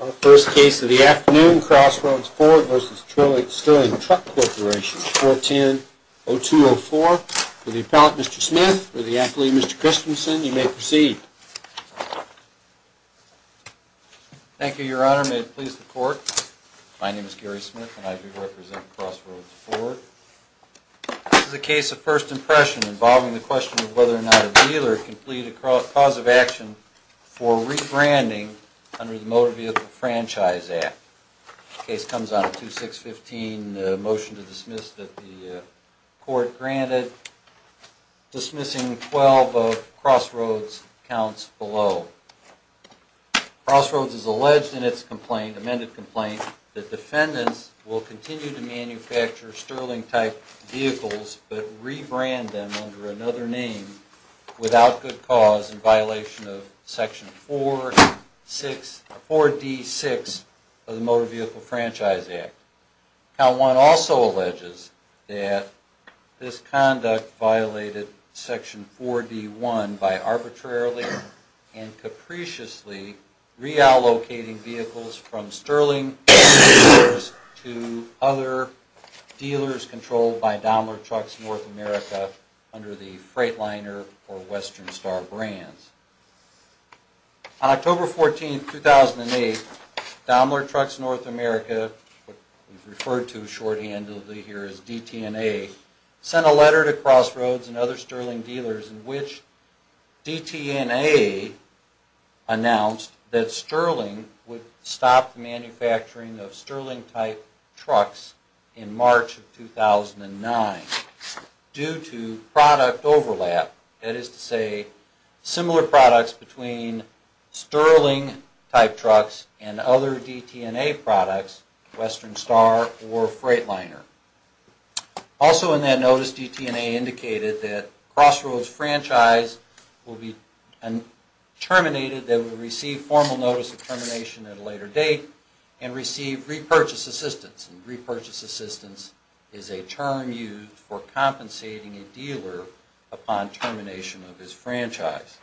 Our first case of the afternoon, Crossroads Ford v. Sterling Truck Corporation, 410-0204. For the appellant, Mr. Smith, for the athlete, Mr. Christensen, you may proceed. Thank you, your honor. May it please the court. My name is Gary Smith and I represent Crossroads Ford. This is a case of first impression involving the question of whether or not a dealer can plead a cause of action for rebranding under the Motor Vehicle Franchise Act. The case comes on 2615, a motion to dismiss that the court granted, dismissing 12 of Crossroads' counts below. Crossroads has alleged in its complaint, amended complaint, that defendants will continue to manufacture Sterling-type vehicles but rebrand them under another name without good cause in violation of Section 4D-6 of the Motor Vehicle Franchise Act. Count 1 also alleges that this conduct violated Section 4D-1 by arbitrarily and capriciously reallocating vehicles from Sterling dealers to other dealers controlled by Daimler Trucks North America under the Freightliner or Western Star brands. On October 14, 2008, Daimler Trucks North America, referred to shorthandedly here as DTNA, sent a letter to Crossroads and other Sterling dealers in which DTNA announced that Sterling would stop the manufacturing of Sterling-type trucks in March of 2009 due to product overlap, that is to say, similar products between Sterling-type trucks and other DTNA products, Western Star or Freightliner. Also in that notice, DTNA indicated that Crossroads' franchise will be terminated, that it will receive formal notice of termination at a later date and receive repurchase assistance. Repurchase assistance is a term used for compensating a dealer upon termination of his franchise.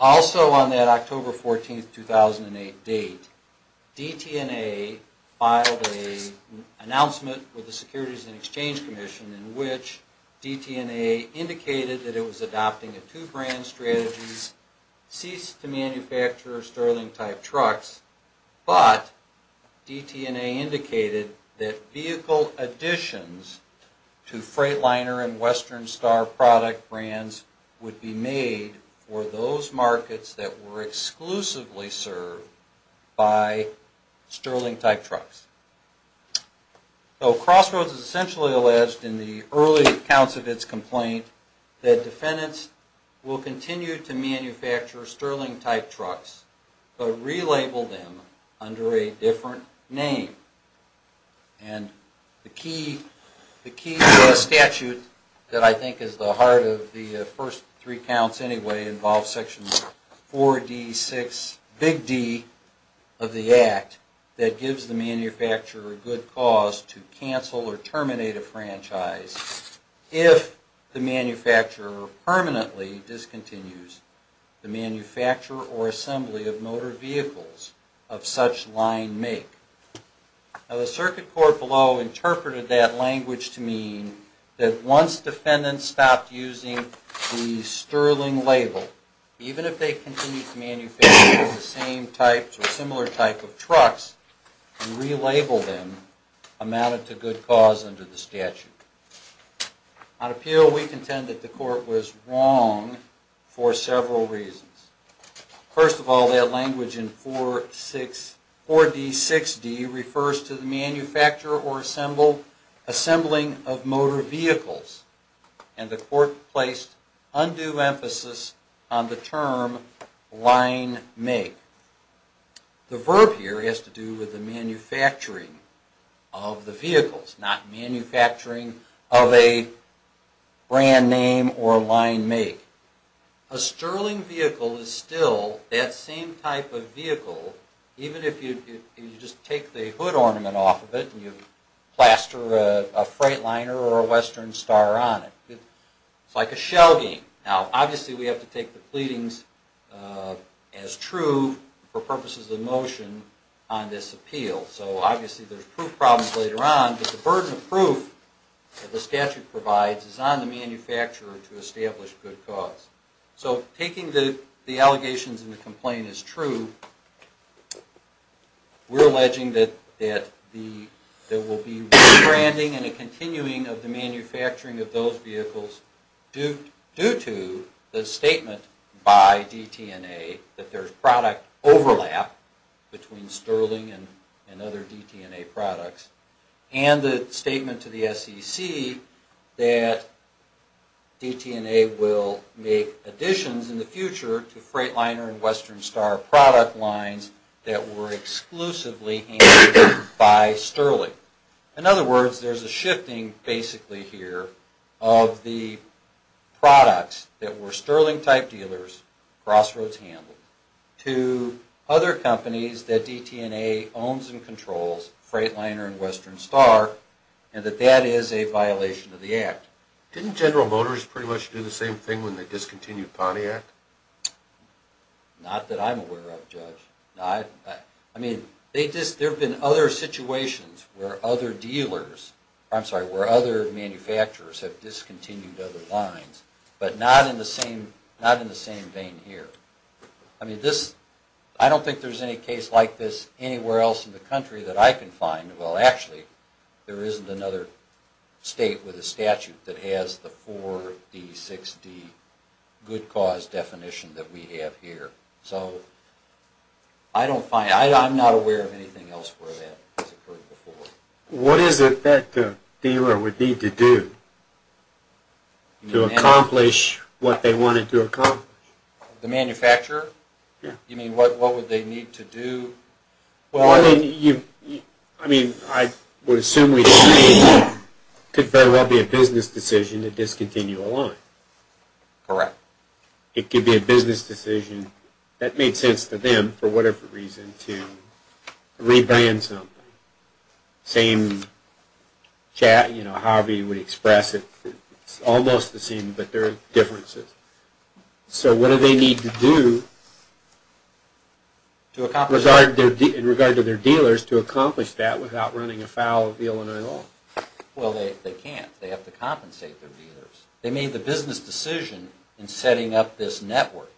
Also on that October 14, 2008 date, DTNA filed an announcement with the Securities and Exchange Commission in which DTNA indicated that it was adopting a two-brand strategy, cease to manufacture Sterling-type trucks, but DTNA indicated that vehicle additions to Freightliner and Western Star product brands would be made for those markets that were exclusively served by Sterling-type trucks. So Crossroads essentially alleged in the early accounts of its complaint that defendants will continue to manufacture Sterling-type trucks but relabel them under a different name. And the key statute that I think is the heart of the first three counts anyway involves Section 4D6, Big D, of the Act that gives the manufacturer a good cause to cancel or terminate a franchise if the manufacturer permanently discontinues the manufacture or assembly of motor vehicles of such line make. Now the Circuit Court below interpreted that language to mean that once defendants stopped using the Sterling label, even if they continued to manufacture the same types or similar types of trucks and relabel them, amounted to good cause under the statute. On appeal, we contend that the Court was wrong for several reasons. First of all, that language in 4D6D refers to the manufacture or assembling of motor vehicles, and the Court placed undue emphasis on the term line make. The verb here has to do with the manufacturing of the vehicles, not manufacturing of a brand name or line make. A Sterling vehicle is still that same type of vehicle, even if you just take the hood ornament off of it and you plaster a Freightliner or a Western Star on it. It's like a shell game. Now obviously we have to take the pleadings as true for purposes of motion on this appeal. So obviously there's proof problems later on, but the burden of proof that the statute provides is on the manufacturer to establish good cause. So taking the allegations and the complaint as true, we're alleging that there will be rebranding and a continuing of the manufacturing of those vehicles due to the statement by DT&A that there's product overlap between Sterling and other DT&A products, and the statement to the SEC that DT&A will make additions in the future to Freightliner and Western Star product lines that were exclusively handled by Sterling. In other words, there's a shifting basically here of the products that were Sterling-type dealers, crossroads handled, to other companies that DT&A owns and controls, Freightliner and Western Star, and that that is a violation of the Act. Didn't General Motors pretty much do the same thing when they discontinued Pontiac? Not that I'm aware of, Judge. I mean, there have been other situations where other dealers, I'm sorry, where other manufacturers have discontinued other lines, but not in the same vein here. I mean, I don't think there's any case like this anywhere else in the country that I can find. Well, actually, there isn't another state with a statute that has the 4D, 6D good cause definition that we have here. So, I don't find, I'm not aware of anything else where that has occurred before. What is it that the dealer would need to do to accomplish what they wanted to accomplish? The manufacturer? Yeah. You mean, what would they need to do? Well, I mean, I would assume we could very well be a business decision to discontinue a line. Correct. It could be a business decision that made sense to them for whatever reason to rebrand something. Same chat, you know, however you would express it. It's almost the same, but there are differences. So, what do they need to do in regard to their dealers to accomplish that without running afoul of the Illinois law? Well, they can't. They have to compensate their dealers. They made the business decision in setting up this network.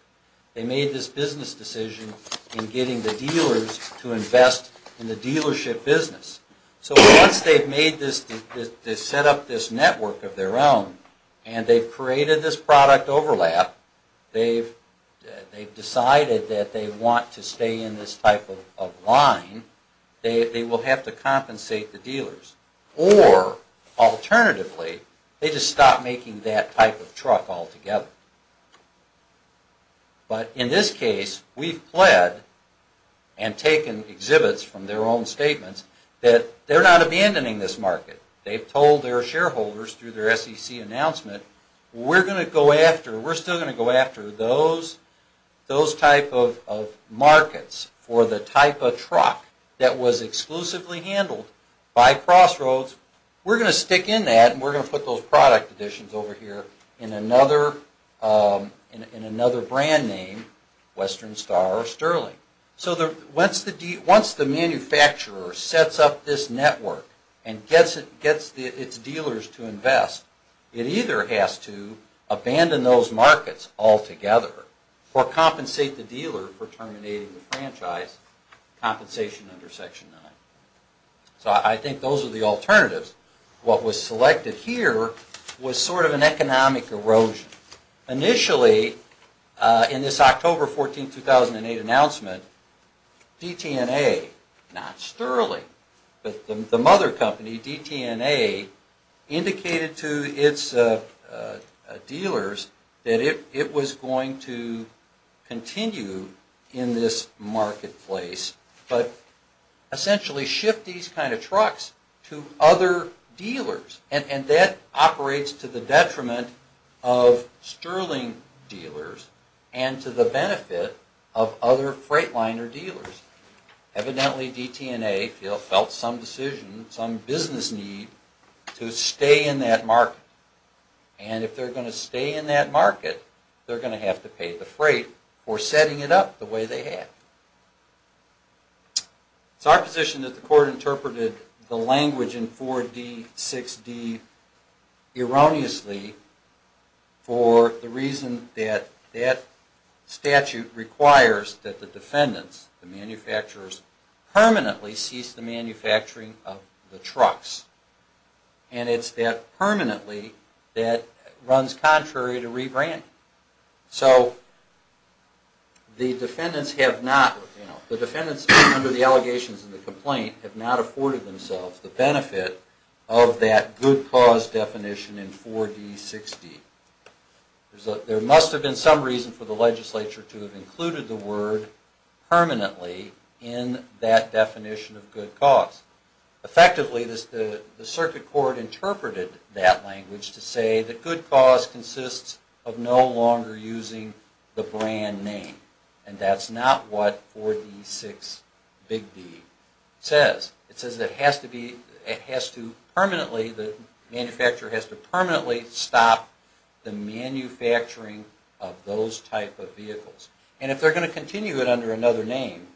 They made this business decision in getting the dealers to invest in the dealership business. So, once they've set up this network of their own and they've created this product overlap, they've decided that they want to stay in this type of line, they will have to compensate the dealers. Or, alternatively, they just stop making that type of truck altogether. But in this case, we've pled and taken exhibits from their own statements that they're not abandoning this market. They've told their shareholders through their SEC announcement, we're still going to go after those type of markets for the type of truck that was exclusively handled by Crossroads. We're going to stick in that and we're going to put those product additions over here in another brand name, Western Star or Sterling. So, once the manufacturer sets up this network and gets its dealers to invest, it either has to abandon those markets altogether or compensate the dealer for terminating the franchise, compensation under Section 9. So, I think those are the alternatives. What was selected here was sort of an economic erosion. Initially, in this October 14, 2008 announcement, DTNA, not Sterling, but the mother company, DTNA, indicated to its dealers that it was going to continue in this marketplace, but essentially shift these kind of trucks to other dealers. And that operates to the detriment of Sterling dealers and to the benefit of other Freightliner dealers. Evidently, DTNA felt some decision, some business need to stay in that market. And if they're going to stay in that market, they're going to have to pay the freight for setting it up the way they have. It's our position that the court interpreted the language in 4D, 6D, erroneously for the reason that that statute requires that the defendants, the manufacturers, permanently cease the manufacturing of the trucks. And it's that permanently that runs contrary to rebranding. So, the defendants have not, you know, the defendants under the allegations in the complaint have not afforded themselves the benefit of that good cause definition in 4D, 6D. There must have been some reason for the legislature to have included the word permanently in that definition of good cause. Effectively, the circuit court interpreted that language to say that good cause consists of no longer using the brand name. And that's not what 4D, 6, Big D says. It says it has to permanently, the manufacturer has to permanently stop the manufacturing of those type of vehicles. And if they're going to continue it under another name,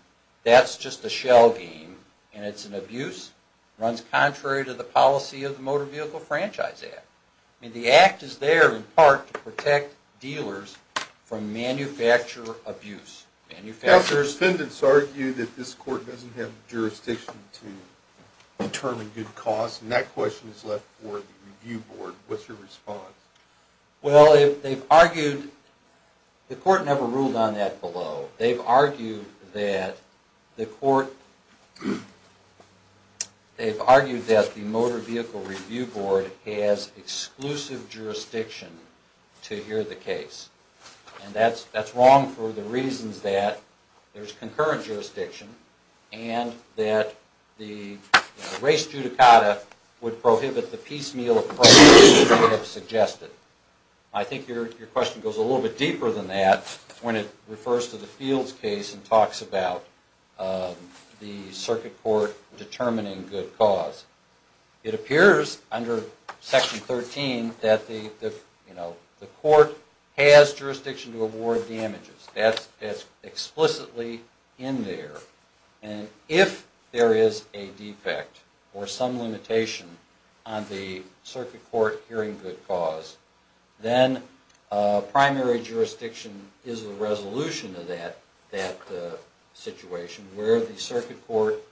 that's just a shell game. And it's an abuse, runs contrary to the policy of the Motor Vehicle Franchise Act. I mean, the Act is there in part to protect dealers from manufacturer abuse. Manufacturers... Counselors, defendants argue that this court doesn't have jurisdiction to determine good cause. And that question is left for the review board. What's your response? Well, they've argued, the court never ruled on that below. They've argued that the motor vehicle review board has exclusive jurisdiction to hear the case. And that's wrong for the reasons that there's concurrent jurisdiction and that the race judicata would prohibit the piecemeal approach that you have suggested. I think your question goes a little bit deeper than that when it refers to the Fields case and talks about the circuit court determining good cause. It appears under Section 13 that the court has jurisdiction to award damages. That's explicitly in there. And if there is a defect or some limitation on the circuit court hearing good cause, then primary jurisdiction is the resolution of that situation where the circuit court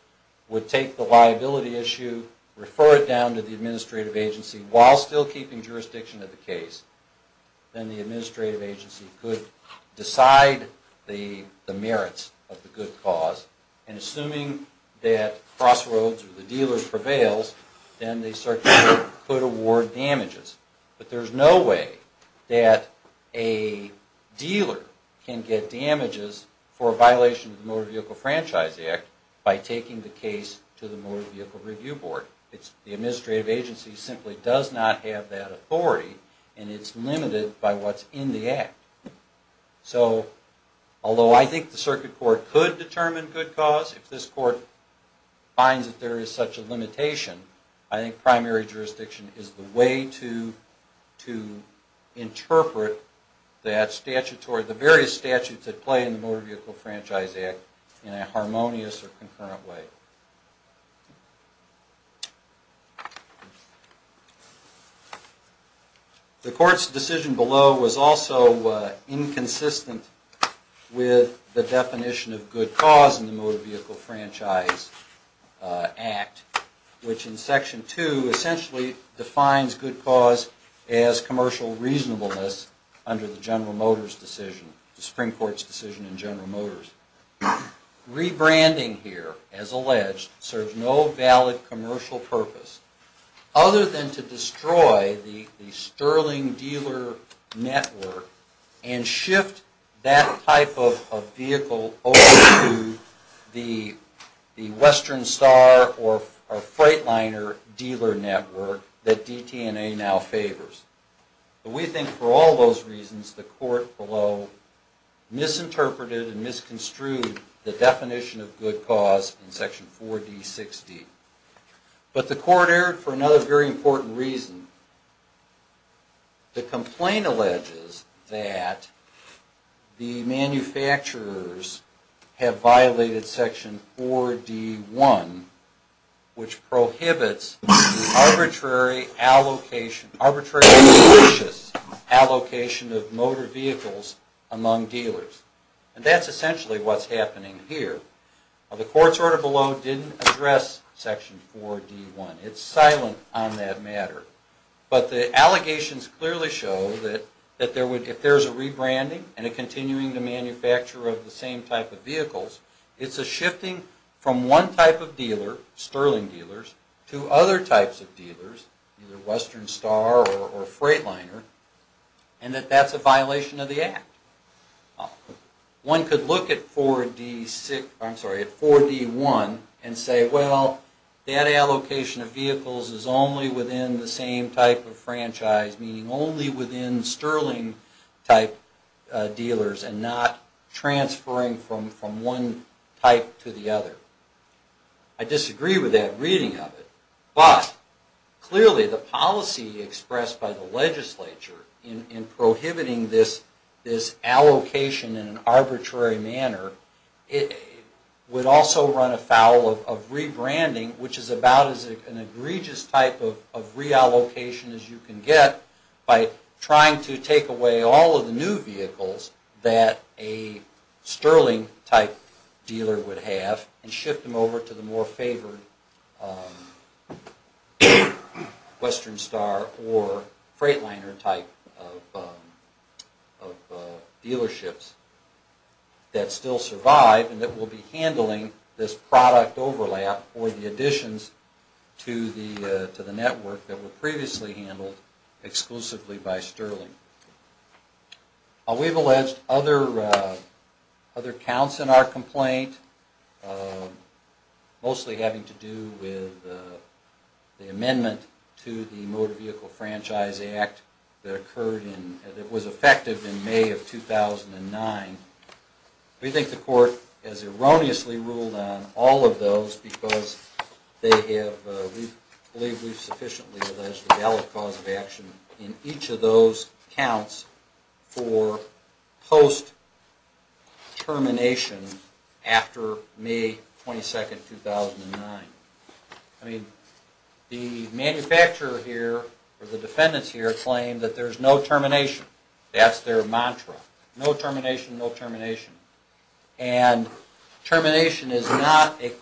would take the liability issue, refer it down to the administrative agency while still keeping jurisdiction of the case. Then the administrative agency could decide the merits of the good cause. And assuming that crossroads or the dealer prevails, then the circuit court could award damages. But there's no way that a dealer can get damages for a violation of the Motor Vehicle Franchise Act by taking the case to the Motor Vehicle Review Board. The administrative agency simply does not have that authority and it's limited by what's in the act. So although I think the circuit court could determine good cause, if this court finds that there is such a limitation, I think primary jurisdiction is the way to interpret the various statutes at play in the Motor Vehicle Franchise Act in a harmonious or concurrent way. The court's decision below was also inconsistent with the definition of good cause in the Motor Vehicle Franchise Act, which in Section 2 essentially defines good cause as commercial reasonableness under the General Motors decision, the Supreme Court's decision in General Motors. Rebranding here, as alleged, serves no valid commercial purpose other than to destroy the Sterling dealer network and shift that type of vehicle over to the Western Star or Freightliner dealer network that DT&A now favors. We think for all those reasons the court below misinterpreted and misconstrued the definition of good cause in Section 4D60. But the court erred for another very important reason. The complaint alleges that the manufacturers have violated Section 4D1, which prohibits arbitrary and malicious allocation of motor vehicles among dealers. And that's essentially what's happening here. The court's order below didn't address Section 4D1. It's silent on that matter. But the allegations clearly show that if there's a rebranding and a continuing to manufacture of the same type of vehicles, it's a shifting from one type of dealer, Sterling dealers, to other types of dealers, either Western Star or Freightliner, and that that's a violation of the Act. One could look at 4D1 and say, well, that allocation of vehicles is only within the same type of franchise, meaning only within Sterling type dealers and not transferring from one type to the other. I disagree with that reading of it. But clearly the policy expressed by the legislature in prohibiting this allocation in an arbitrary manner would also run afoul of rebranding, which is about as an egregious type of reallocation as you can get by trying to take away all of the new vehicles that a Sterling type dealer would have and shift them over to the more favored Western Star or Freightliner type of dealerships that still survive and that will be handling this product overlap or the additions to the network that were previously handled exclusively by Sterling. We've alleged other counts in our complaint, mostly having to do with the amendment to the Motor Vehicle Franchise Act that was effective in May of 2009. We think the court has erroneously ruled on all of those because we believe we've sufficiently alleged a valid cause of action in each of those counts for post-termination after May 22, 2009. The manufacturer here or the defendants here claim that there's no termination. That's their mantra. No termination, no termination. And termination is not an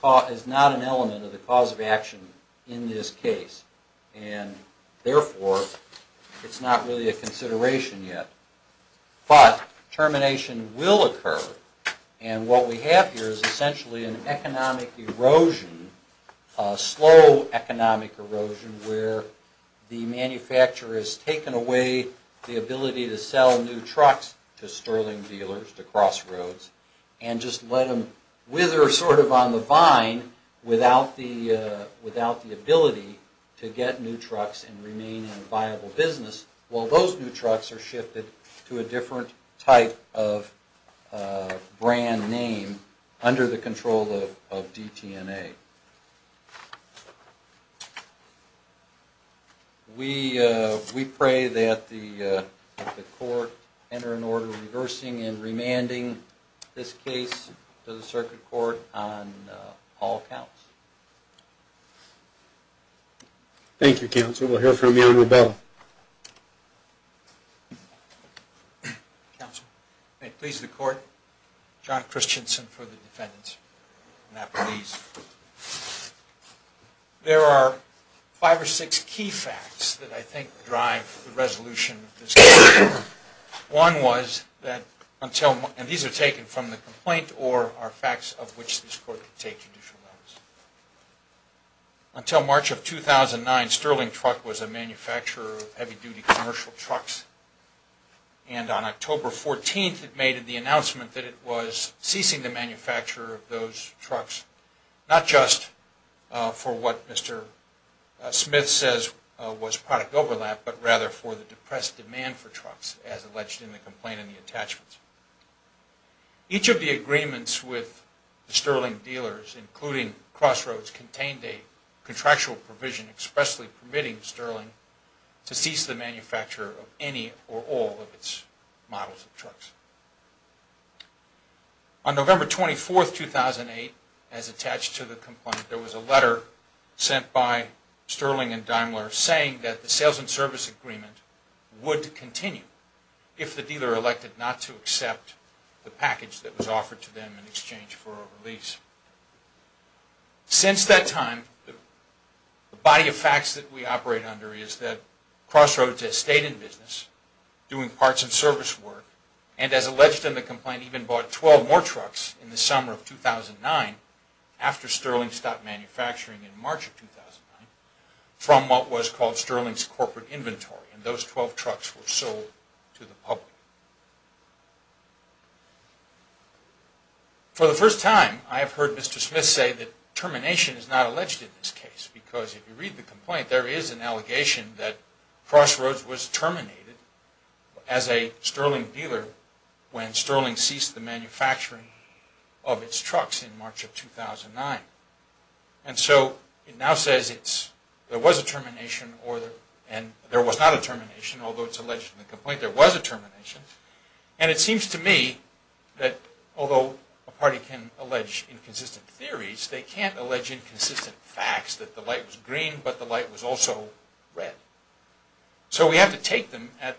element of the cause of action in this case. And therefore, it's not really a consideration yet. But termination will occur and what we have here is essentially an economic erosion, a slow economic erosion, where the manufacturer has taken away the ability to sell new trucks to Sterling dealers, to Crossroads, and just let them wither sort of on the vine without the ability to get new trucks and remain in viable business, while those new trucks are shifted to a different type of brand name under the control of DTNA. We pray that the court enter an order reversing and remanding this case to the Circuit Court on all counts. Thank you, Counsel. We'll hear from you on rebellion. Counsel, may it please the Court, John Christensen for the defendants. There are five or six key facts that I think drive the resolution of this case. One was that, and these are taken from the complaint, or are facts of which this Court can take judicial notice. Until March of 2009, Sterling Truck was a manufacturer of heavy-duty commercial trucks. And on October 14th, it made the announcement that it was ceasing the manufacture of those trucks, not just for what Mr. Smith says was product overlap, but rather for the depressed demand for trucks, as alleged in the complaint and the attachments. Each of the agreements with the Sterling dealers, including Crossroads, contained a contractual provision expressly permitting Sterling to cease the manufacture of any or all of its models of trucks. On November 24th, 2008, as attached to the complaint, there was a letter sent by Sterling and Daimler saying that the sales and service agreement would continue if the dealer elected not to accept the package that was offered to them in exchange for a release. Since that time, the body of facts that we operate under is that Crossroads has stayed in business, doing parts and service work, and as alleged in the complaint, even bought 12 more trucks in the summer of 2009 after Sterling stopped manufacturing in March of 2009 from what was called Sterling's corporate inventory, and those 12 trucks were sold to the public. For the first time, I have heard Mr. Smith say that termination is not alleged in this case, because if you read the complaint, there is an allegation that Crossroads was terminated as a Sterling dealer when Sterling ceased the manufacturing of its trucks in March of 2009, and so it now says there was a termination, and there was not a termination, although it's alleged in the complaint there was a termination, and it seems to me that although a party can allege inconsistent theories, they can't allege inconsistent facts that the light was green, but the light was also red. So we have to take them at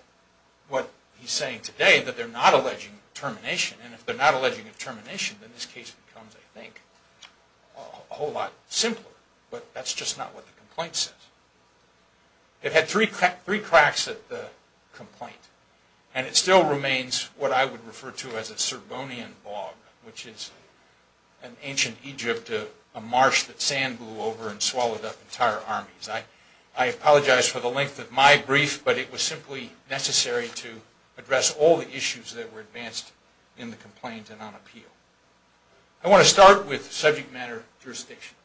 what he's saying today, that they're not alleging termination, and if they're not alleging a termination, then this case becomes, I think, a whole lot simpler, but that's just not what the complaint says. It had three cracks at the complaint, and it still remains what I would refer to as a Serbonian bog, which is an ancient Egypt, a marsh that sand blew over and swallowed up entire armies. I apologize for the length of my brief, but it was simply necessary to address all the issues that were advanced in the complaint and on appeal. I want to start with subject matter jurisdiction,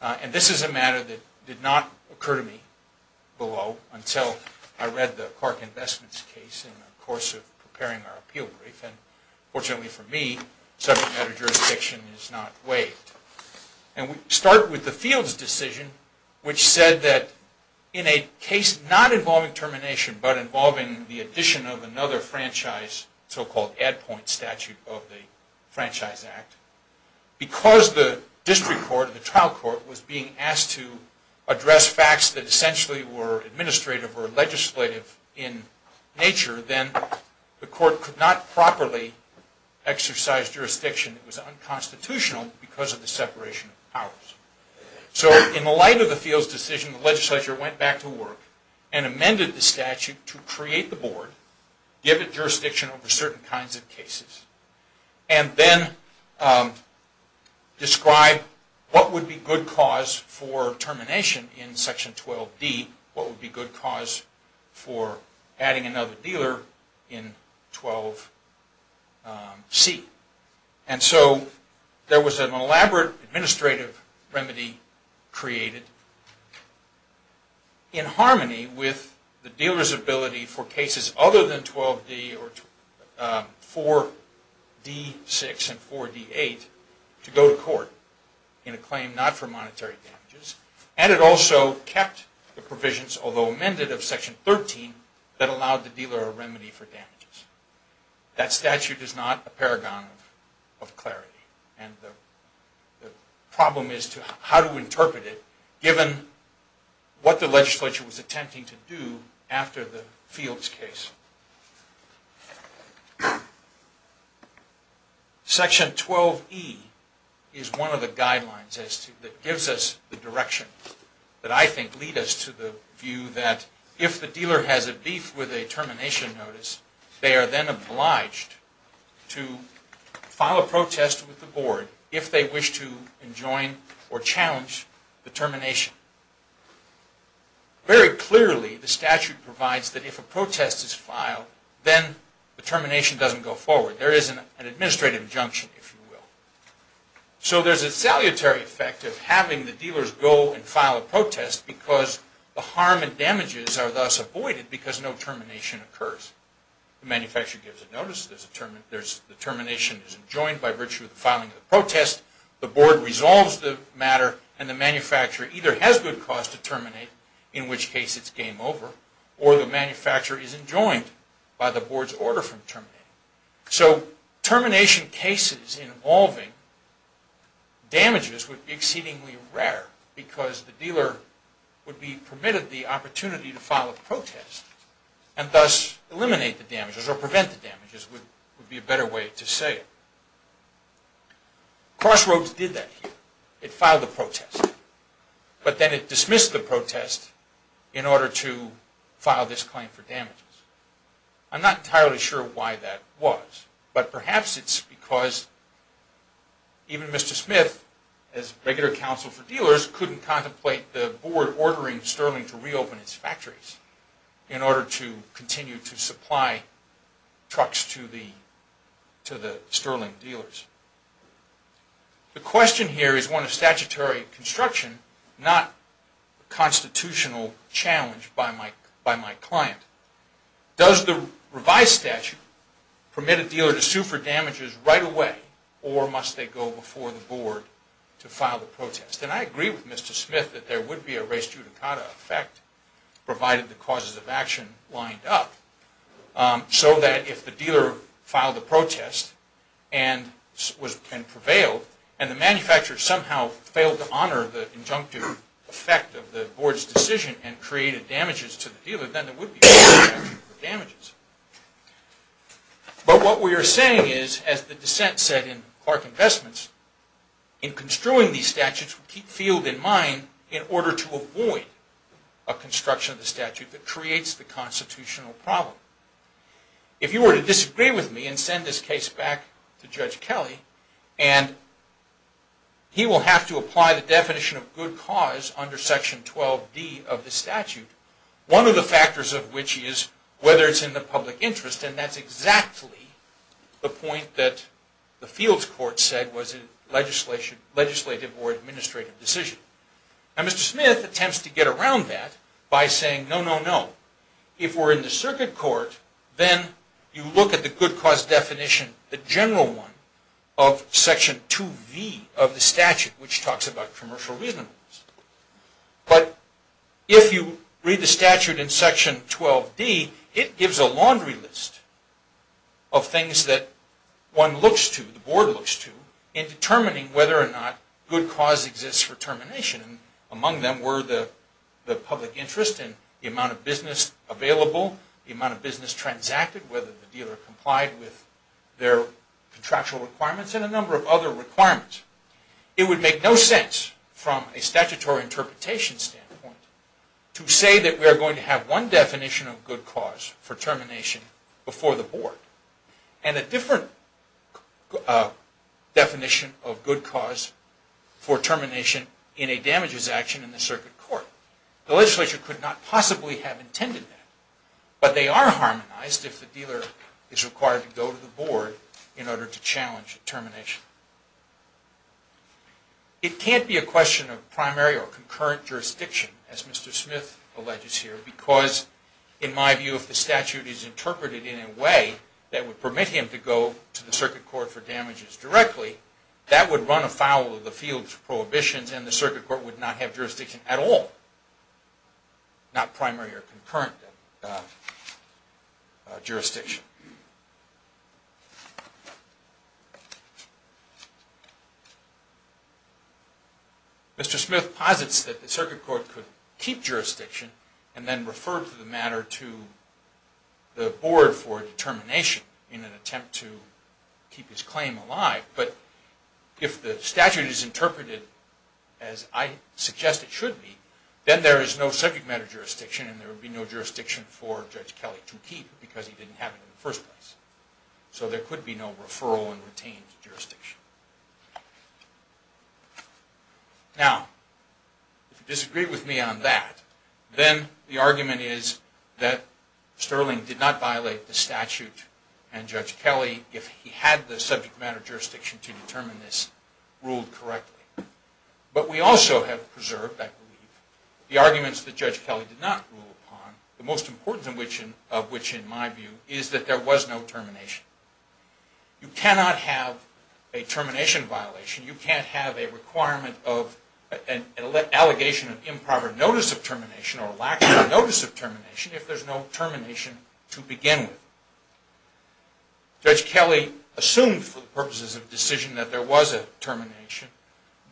and this is a matter that did not occur to me below, until I read the Clark Investments case in the course of preparing our appeal brief, and fortunately for me, subject matter jurisdiction is not waived. And we start with the Fields decision, which said that in a case not involving termination, but involving the addition of another franchise, so-called ad point statute of the Franchise Act, because the district court, the trial court, was being asked to address facts that essentially were administrative or legislative in nature, then the court could not properly exercise jurisdiction that was unconstitutional because of the separation of powers. So in the light of the Fields decision, the legislature went back to work and amended the statute to create the board, give it jurisdiction over certain kinds of cases, and then describe what would be good cause for termination in Section 12D, what would be good cause for adding another dealer in 12C. And so there was an elaborate administrative remedy created in harmony with the dealer's ability for cases other than 12D or 4D6 and 4D8 to go to court in a claim not for monetary damages, and it also kept the provisions, although amended of Section 13, that allowed the dealer a remedy for damages. That statute is not a paragon of clarity, and the problem is how to interpret it, given what the legislature was attempting to do after the Fields case. Section 12E is one of the guidelines that gives us the direction that I think leads us to the view that if the dealer has a beef with a termination notice, they are then obliged to file a protest with the board if they wish to enjoin or challenge the termination. Very clearly, the statute provides that if a protest is filed, then the termination doesn't go forward. There is an administrative injunction, if you will. So there's a salutary effect of having the dealers go and file a protest because the harm and damages are thus avoided because no termination occurs. The manufacturer gives a notice, the termination is enjoined by virtue of the filing of the protest, the board resolves the matter, and the manufacturer either has good cause to terminate, in which case it's game over, or the manufacturer is enjoined by the board's order from terminating. So termination cases involving damages would be exceedingly rare because the dealer would be permitted the opportunity to file a protest and thus eliminate the damages or prevent the damages would be a better way to say it. Crossroads did that here. It filed a protest, but then it dismissed the protest in order to file this claim for damages. I'm not entirely sure why that was, but perhaps it's because even Mr. Smith, as regular counsel for dealers, couldn't contemplate the board ordering Sterling to reopen its factories in order to continue to supply trucks to the Sterling dealers. The question here is one of statutory construction, not constitutional challenge by my client. Does the revised statute permit a dealer to sue for damages right away, or must they go before the board to file the protest? And I agree with Mr. Smith that there would be a res judicata effect, provided the causes of action lined up, so that if the dealer filed a protest and prevailed, and the manufacturer somehow failed to honor the injunctive effect of the board's decision and created damages to the dealer, then there would be a statute for damages. But what we are saying is, as the dissent said in Clark Investments, in construing these statutes, we keep field in mind in order to avoid a construction of the statute that creates the constitutional problem. If you were to disagree with me and send this case back to Judge Kelly, and he will have to apply the definition of good cause under section 12D of the statute, one of the factors of which is whether it's in the public interest, and that's exactly the point that the fields court said was in legislative or administrative decision. And Mr. Smith attempts to get around that by saying, no, no, no. If we're in the circuit court, then you look at the good cause definition, the general one of section 2V of the statute, which talks about commercial reasonableness. But if you read the statute in section 12D, it gives a laundry list of things that one looks to, the board looks to, in determining whether or not good cause exists for termination. Among them were the public interest and the amount of business available, the amount of business transacted, whether the dealer complied with their contractual requirements, and a number of other requirements. It would make no sense, from a statutory interpretation standpoint, to say that we are going to have one definition of good cause for termination before the board, and a different definition of good cause for termination in a damages action in the circuit court. The legislature could not possibly have intended that, but they are harmonized if the dealer is required to go to the board in order to challenge termination. It can't be a question of primary or concurrent jurisdiction, as Mr. Smith alleges here, because, in my view, if the statute is interpreted in a way that would permit him to go to the circuit court for damages directly, that would run afoul of the field's prohibitions, and the circuit court would not have jurisdiction at all. Not primary or concurrent jurisdiction. Mr. Smith posits that the circuit court could keep jurisdiction, and then refer to the matter to the board for determination in an attempt to keep his claim alive, but if the statute is interpreted as I suggest it should be, then there is no subject matter jurisdiction, and there would be no jurisdiction for Judge Kelly to keep, because he didn't have it in the first place. So there could be no referral and retained jurisdiction. Now, if you disagree with me on that, then the argument is that Sterling did not violate the statute, and Judge Kelly, if he had the subject matter jurisdiction to determine this, ruled correctly. But we also have preserved, I believe, the arguments that Judge Kelly did not rule upon, the most important of which, in my view, is that there was no termination. You cannot have a termination violation, you can't have an allegation of improper notice of termination, or a lack of notice of termination, if there's no termination to begin with. Judge Kelly assumed, for the purposes of decision, that there was a termination,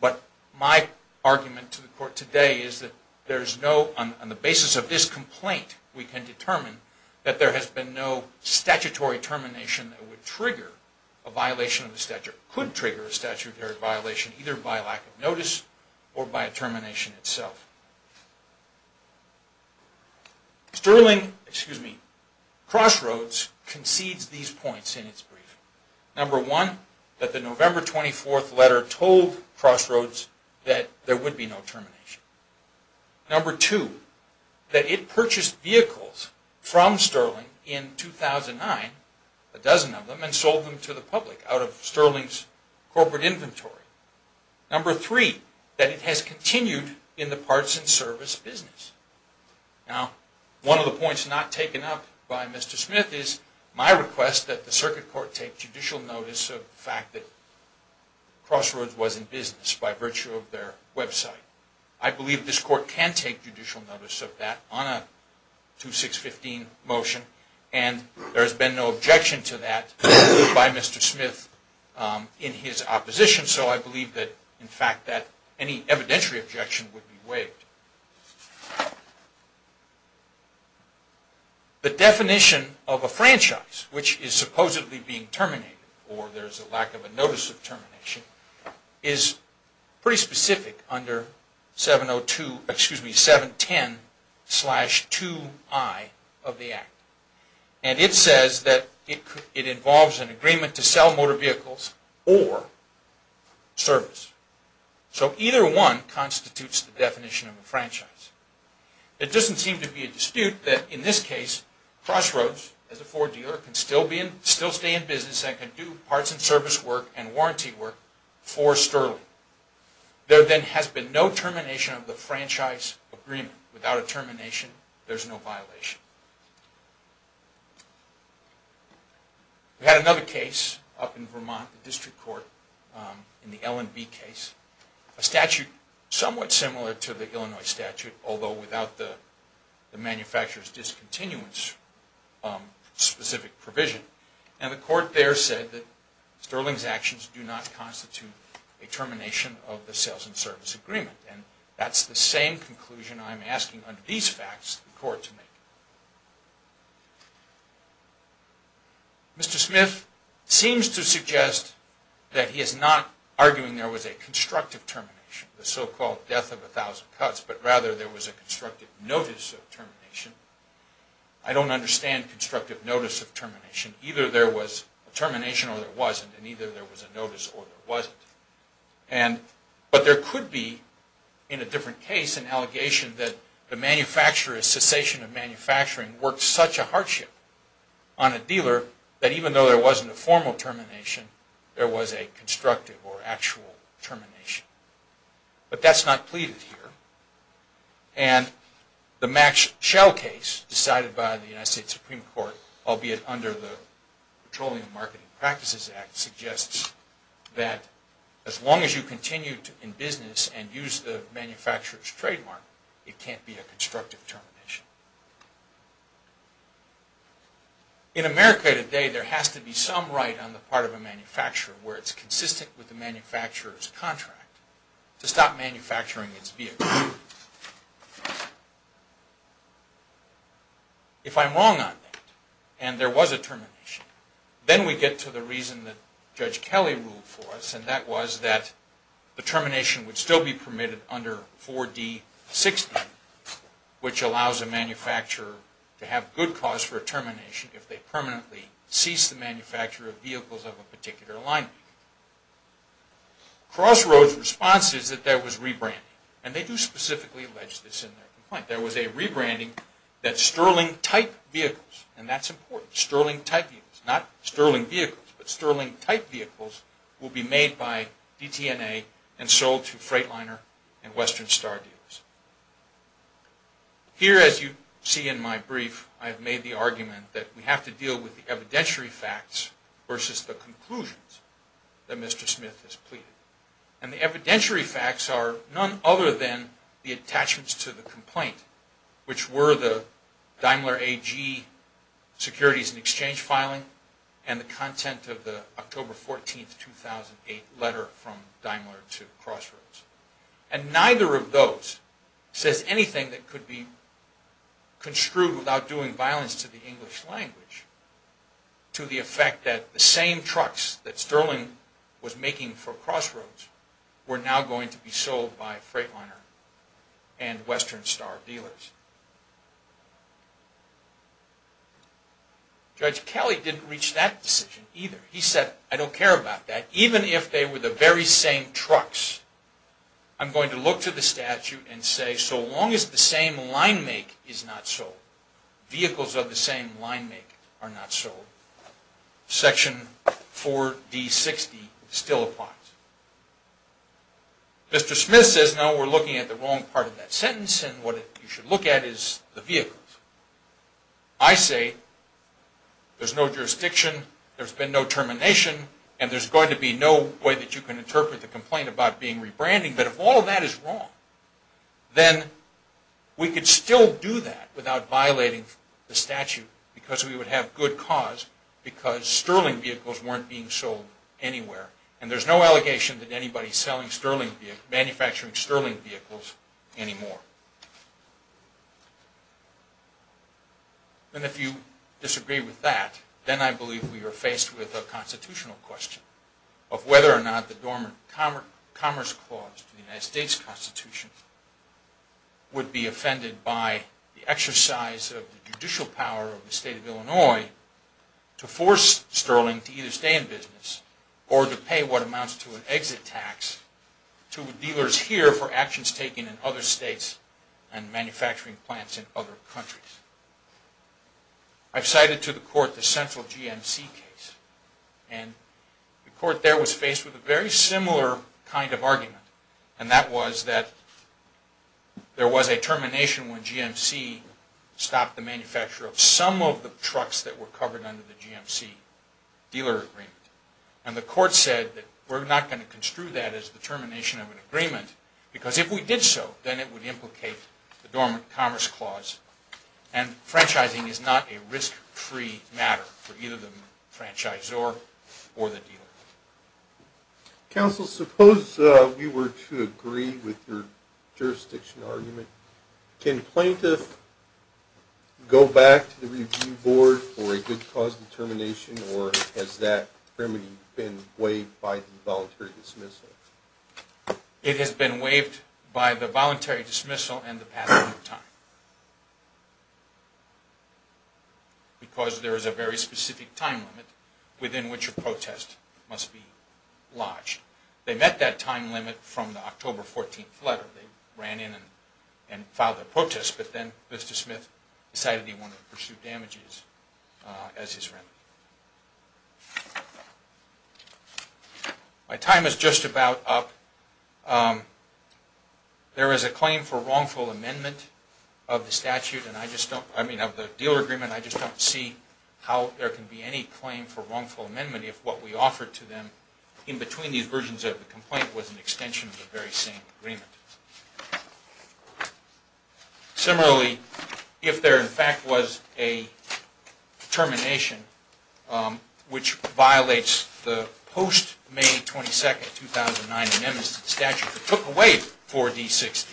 but my argument to the court today is that there is no, on the basis of this complaint, we can determine that there has been no statutory termination that would trigger a violation of the statute. It could trigger a statutory violation, either by lack of notice, or by a termination itself. Sterling, excuse me, Crossroads concedes these points in its briefing. Number one, that the November 24th letter told Crossroads that there would be no termination. Number two, that it purchased vehicles from Sterling in 2009, a dozen of them, and sold them to the public out of Sterling's corporate inventory. Number three, that it has continued in the parts and service business. Now, one of the points not taken up by Mr. Smith is my request that the circuit court take judicial notice of the fact that Crossroads was in business by virtue of their website. I believe this court can take judicial notice of that on a 2615 motion, and there has been no objection to that by Mr. Smith in his opposition, so I believe that, in fact, that any evidentiary objection would be waived. The definition of a franchise which is supposedly being terminated, or there's a lack of a notice of termination, is pretty specific under 710-2i of the Act, and it says that it involves an agreement to sell motor vehicles or service. So either one constitutes the definition of a franchise. It doesn't seem to be a dispute that, in this case, Crossroads, as a Ford dealer, can still stay in business and can do parts and service work and warranty work for Sterling. There then has been no termination of the franchise agreement. Without a termination, there's no violation. We had another case up in Vermont, the district court, in the L&B case, a statute somewhat similar to the Illinois statute, although without the manufacturer's discontinuance specific provision, and the court there said that Sterling's actions do not constitute a termination of the sales and service agreement, and that's the same conclusion I'm asking under these facts the court to make. Mr. Smith seems to suggest that he is not arguing there was a constructive termination, the so-called death of a thousand cuts, but rather there was a constructive notice of termination. I don't understand constructive notice of termination. Either there was a termination or there wasn't, and either there was a notice or there wasn't. But there could be, in a different case, an allegation that the manufacturer's cessation of manufacturing worked such a hardship on a dealer that even though there wasn't a formal termination, there was a constructive or actual termination. But that's not pleaded here, and the Max Schell case decided by the United States Supreme Court, albeit under the Petroleum Marketing Practices Act, suggests that as long as you continue in business and use the manufacturer's trademark, it can't be a constructive termination. In America today, there has to be some right on the part of a manufacturer where it's consistent with the manufacturer's contract to stop manufacturing its vehicles. If I'm wrong on that and there was a termination, then we get to the reason that Judge Kelly ruled for us, and that was that the termination would still be permitted under 4D60, which allows a manufacturer to have good cause for a termination if they permanently cease the manufacture of vehicles of a particular line. Crossroads' response is that there was rebranding, and they do specifically allege this in their complaint. There was a rebranding that sterling-type vehicles, and that's important, sterling-type vehicles, not sterling vehicles, but sterling-type vehicles will be made by DTNA and sold to Freightliner and Western Star dealers. Here, as you see in my brief, I have made the argument that we have to deal with the evidentiary facts versus the conclusions that Mr. Smith has pleaded. And the evidentiary facts are none other than the attachments to the complaint, which were the Daimler AG securities and exchange filing and the content of the October 14, 2008 letter from Daimler to Crossroads. And neither of those says anything that could be construed without doing violence to the English language to the effect that the same trucks that Sterling was making for Crossroads were now going to be sold by Freightliner and Western Star dealers. Judge Kelly didn't reach that decision either. He said, I don't care about that. Even if they were the very same trucks, I'm going to look to the statute and say, so long as the same line make is not sold, vehicles of the same line make are not sold, Section 4D60 still applies. Mr. Smith says, no, we're looking at the wrong part of that sentence, and what you should look at is the vehicles. I say, there's no jurisdiction, there's been no termination, and there's going to be no way that you can interpret the complaint about being rebranding. But if all of that is wrong, then we could still do that without violating the statute because we would have good cause because Sterling vehicles weren't being sold anywhere. And there's no allegation that anybody is manufacturing Sterling vehicles anymore. And if you disagree with that, then I believe we are faced with a constitutional question of whether or not the Dormant Commerce Clause to the United States Constitution would be offended by the exercise of the judicial power of the state of Illinois to force Sterling to either stay in business or to pay what amounts to an exit tax to dealers here for actions taken in other states and manufacturing plants in other countries. I've cited to the court the central GMC case, and the court there was faced with a very similar kind of argument, and that was that there was a termination when GMC stopped the manufacture of some of the trucks that were covered under the GMC dealer agreement. And the court said that we're not going to construe that as the termination of an agreement because if we did so, then it would implicate the Dormant Commerce Clause, and franchising is not a risk-free matter for either the franchisor or the dealer. Counsel, suppose we were to agree with your jurisdiction argument. Can a plaintiff go back to the review board for a good cause determination, or has that remedy been waived by the voluntary dismissal? It has been waived by the voluntary dismissal and the passing of time because there is a very specific time limit within which a protest must be lodged. They met that time limit from the October 14th letter. They ran in and filed their protest, but then Mr. Smith decided he wanted to pursue damages as his remedy. My time is just about up. There is a claim for wrongful amendment of the dealer agreement. I just don't see how there can be any claim for wrongful amendment if what we offered to them in between these versions of the complaint was an extension of the very same agreement. Similarly, if there in fact was a termination, which violates the post-May 22nd, 2009 statute that took away 4D60,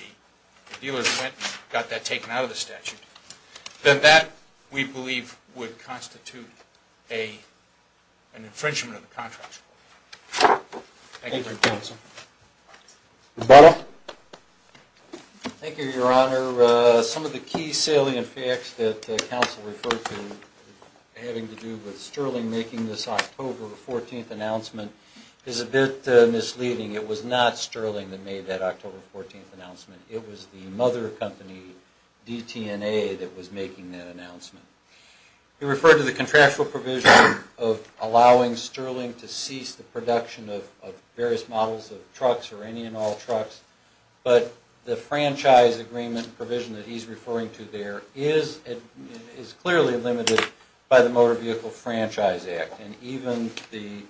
the dealers went and got that taken out of the statute, then that, we believe, would constitute an infringement of the contract. Thank you, Your Honor. Thank you, Your Honor. Some of the key salient facts that counsel referred to having to do with Sterling making this October 14th announcement is a bit misleading. It was not Sterling that made that October 14th announcement. It was the mother company, DTNA, that was making that announcement. We referred to the contractual provision of allowing Sterling to cease the production of various models of trucks or any and all trucks, but the franchise agreement provision that he's referring to there is clearly limited by the Motor Vehicle Franchise Act, and even the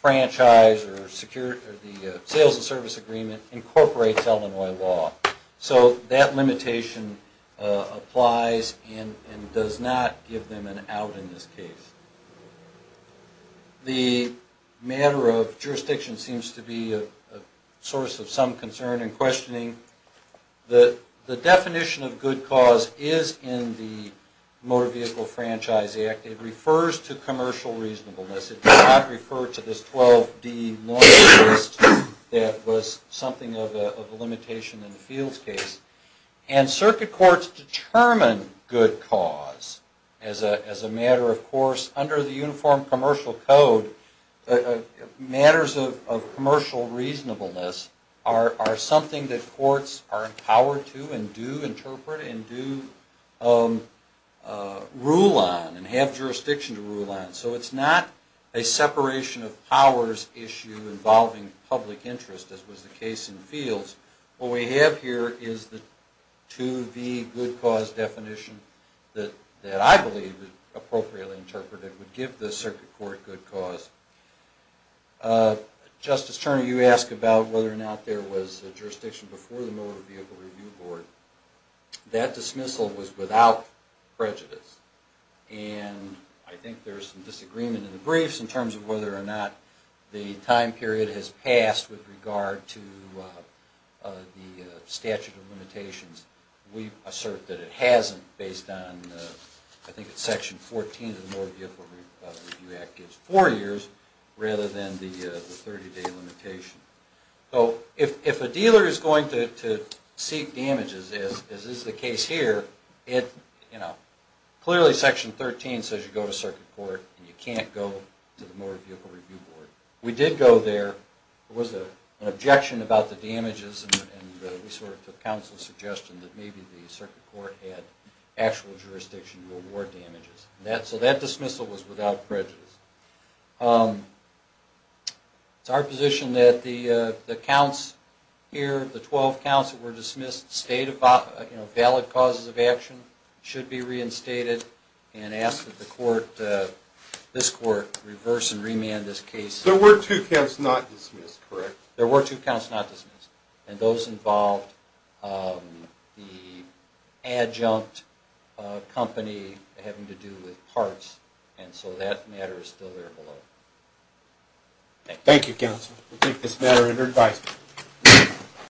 franchise or the sales and service agreement incorporates Illinois law. So that limitation applies and does not give them an out in this case. Jurisdiction seems to be a source of some concern and questioning. The definition of good cause is in the Motor Vehicle Franchise Act. It refers to commercial reasonableness. It does not refer to this 12D lawyer list that was something of a limitation in the Fields case. And circuit courts determine good cause as a matter of course under the Uniform Commercial Code, matters of commercial reasonableness are something that courts are empowered to and do interpret and do rule on and have jurisdiction to rule on. So it's not a separation of powers issue involving public interest, as was the case in Fields. What we have here is the 2V good cause definition that I believe is appropriately interpreted would give the circuit court good cause. Justice Turner, you asked about whether or not there was jurisdiction before the Motor Vehicle Review Board. That dismissal was without prejudice, and I think there's some disagreement in the briefs in terms of whether or not the time period has passed with regard to the statute of limitations. We assert that it hasn't based on I think it's Section 14 of the Motor Vehicle Review Act gives four years rather than the 30-day limitation. So if a dealer is going to seek damages, as is the case here, clearly Section 13 says you go to circuit court and you can't go to the Motor Vehicle Review Board. We did go there. There was an objection about the damages, and we sort of took counsel's suggestion that maybe the circuit court had actual jurisdiction to award damages. So that dismissal was without prejudice. It's our position that the counts here, the 12 counts that were dismissed, valid causes of action should be reinstated and ask that this court reverse and remand this case. There were two counts not dismissed, correct? And those involved the adjunct company having to do with parts, and so that matter is still there below. Thank you. Thank you, counsel. We'll take this matter under advice.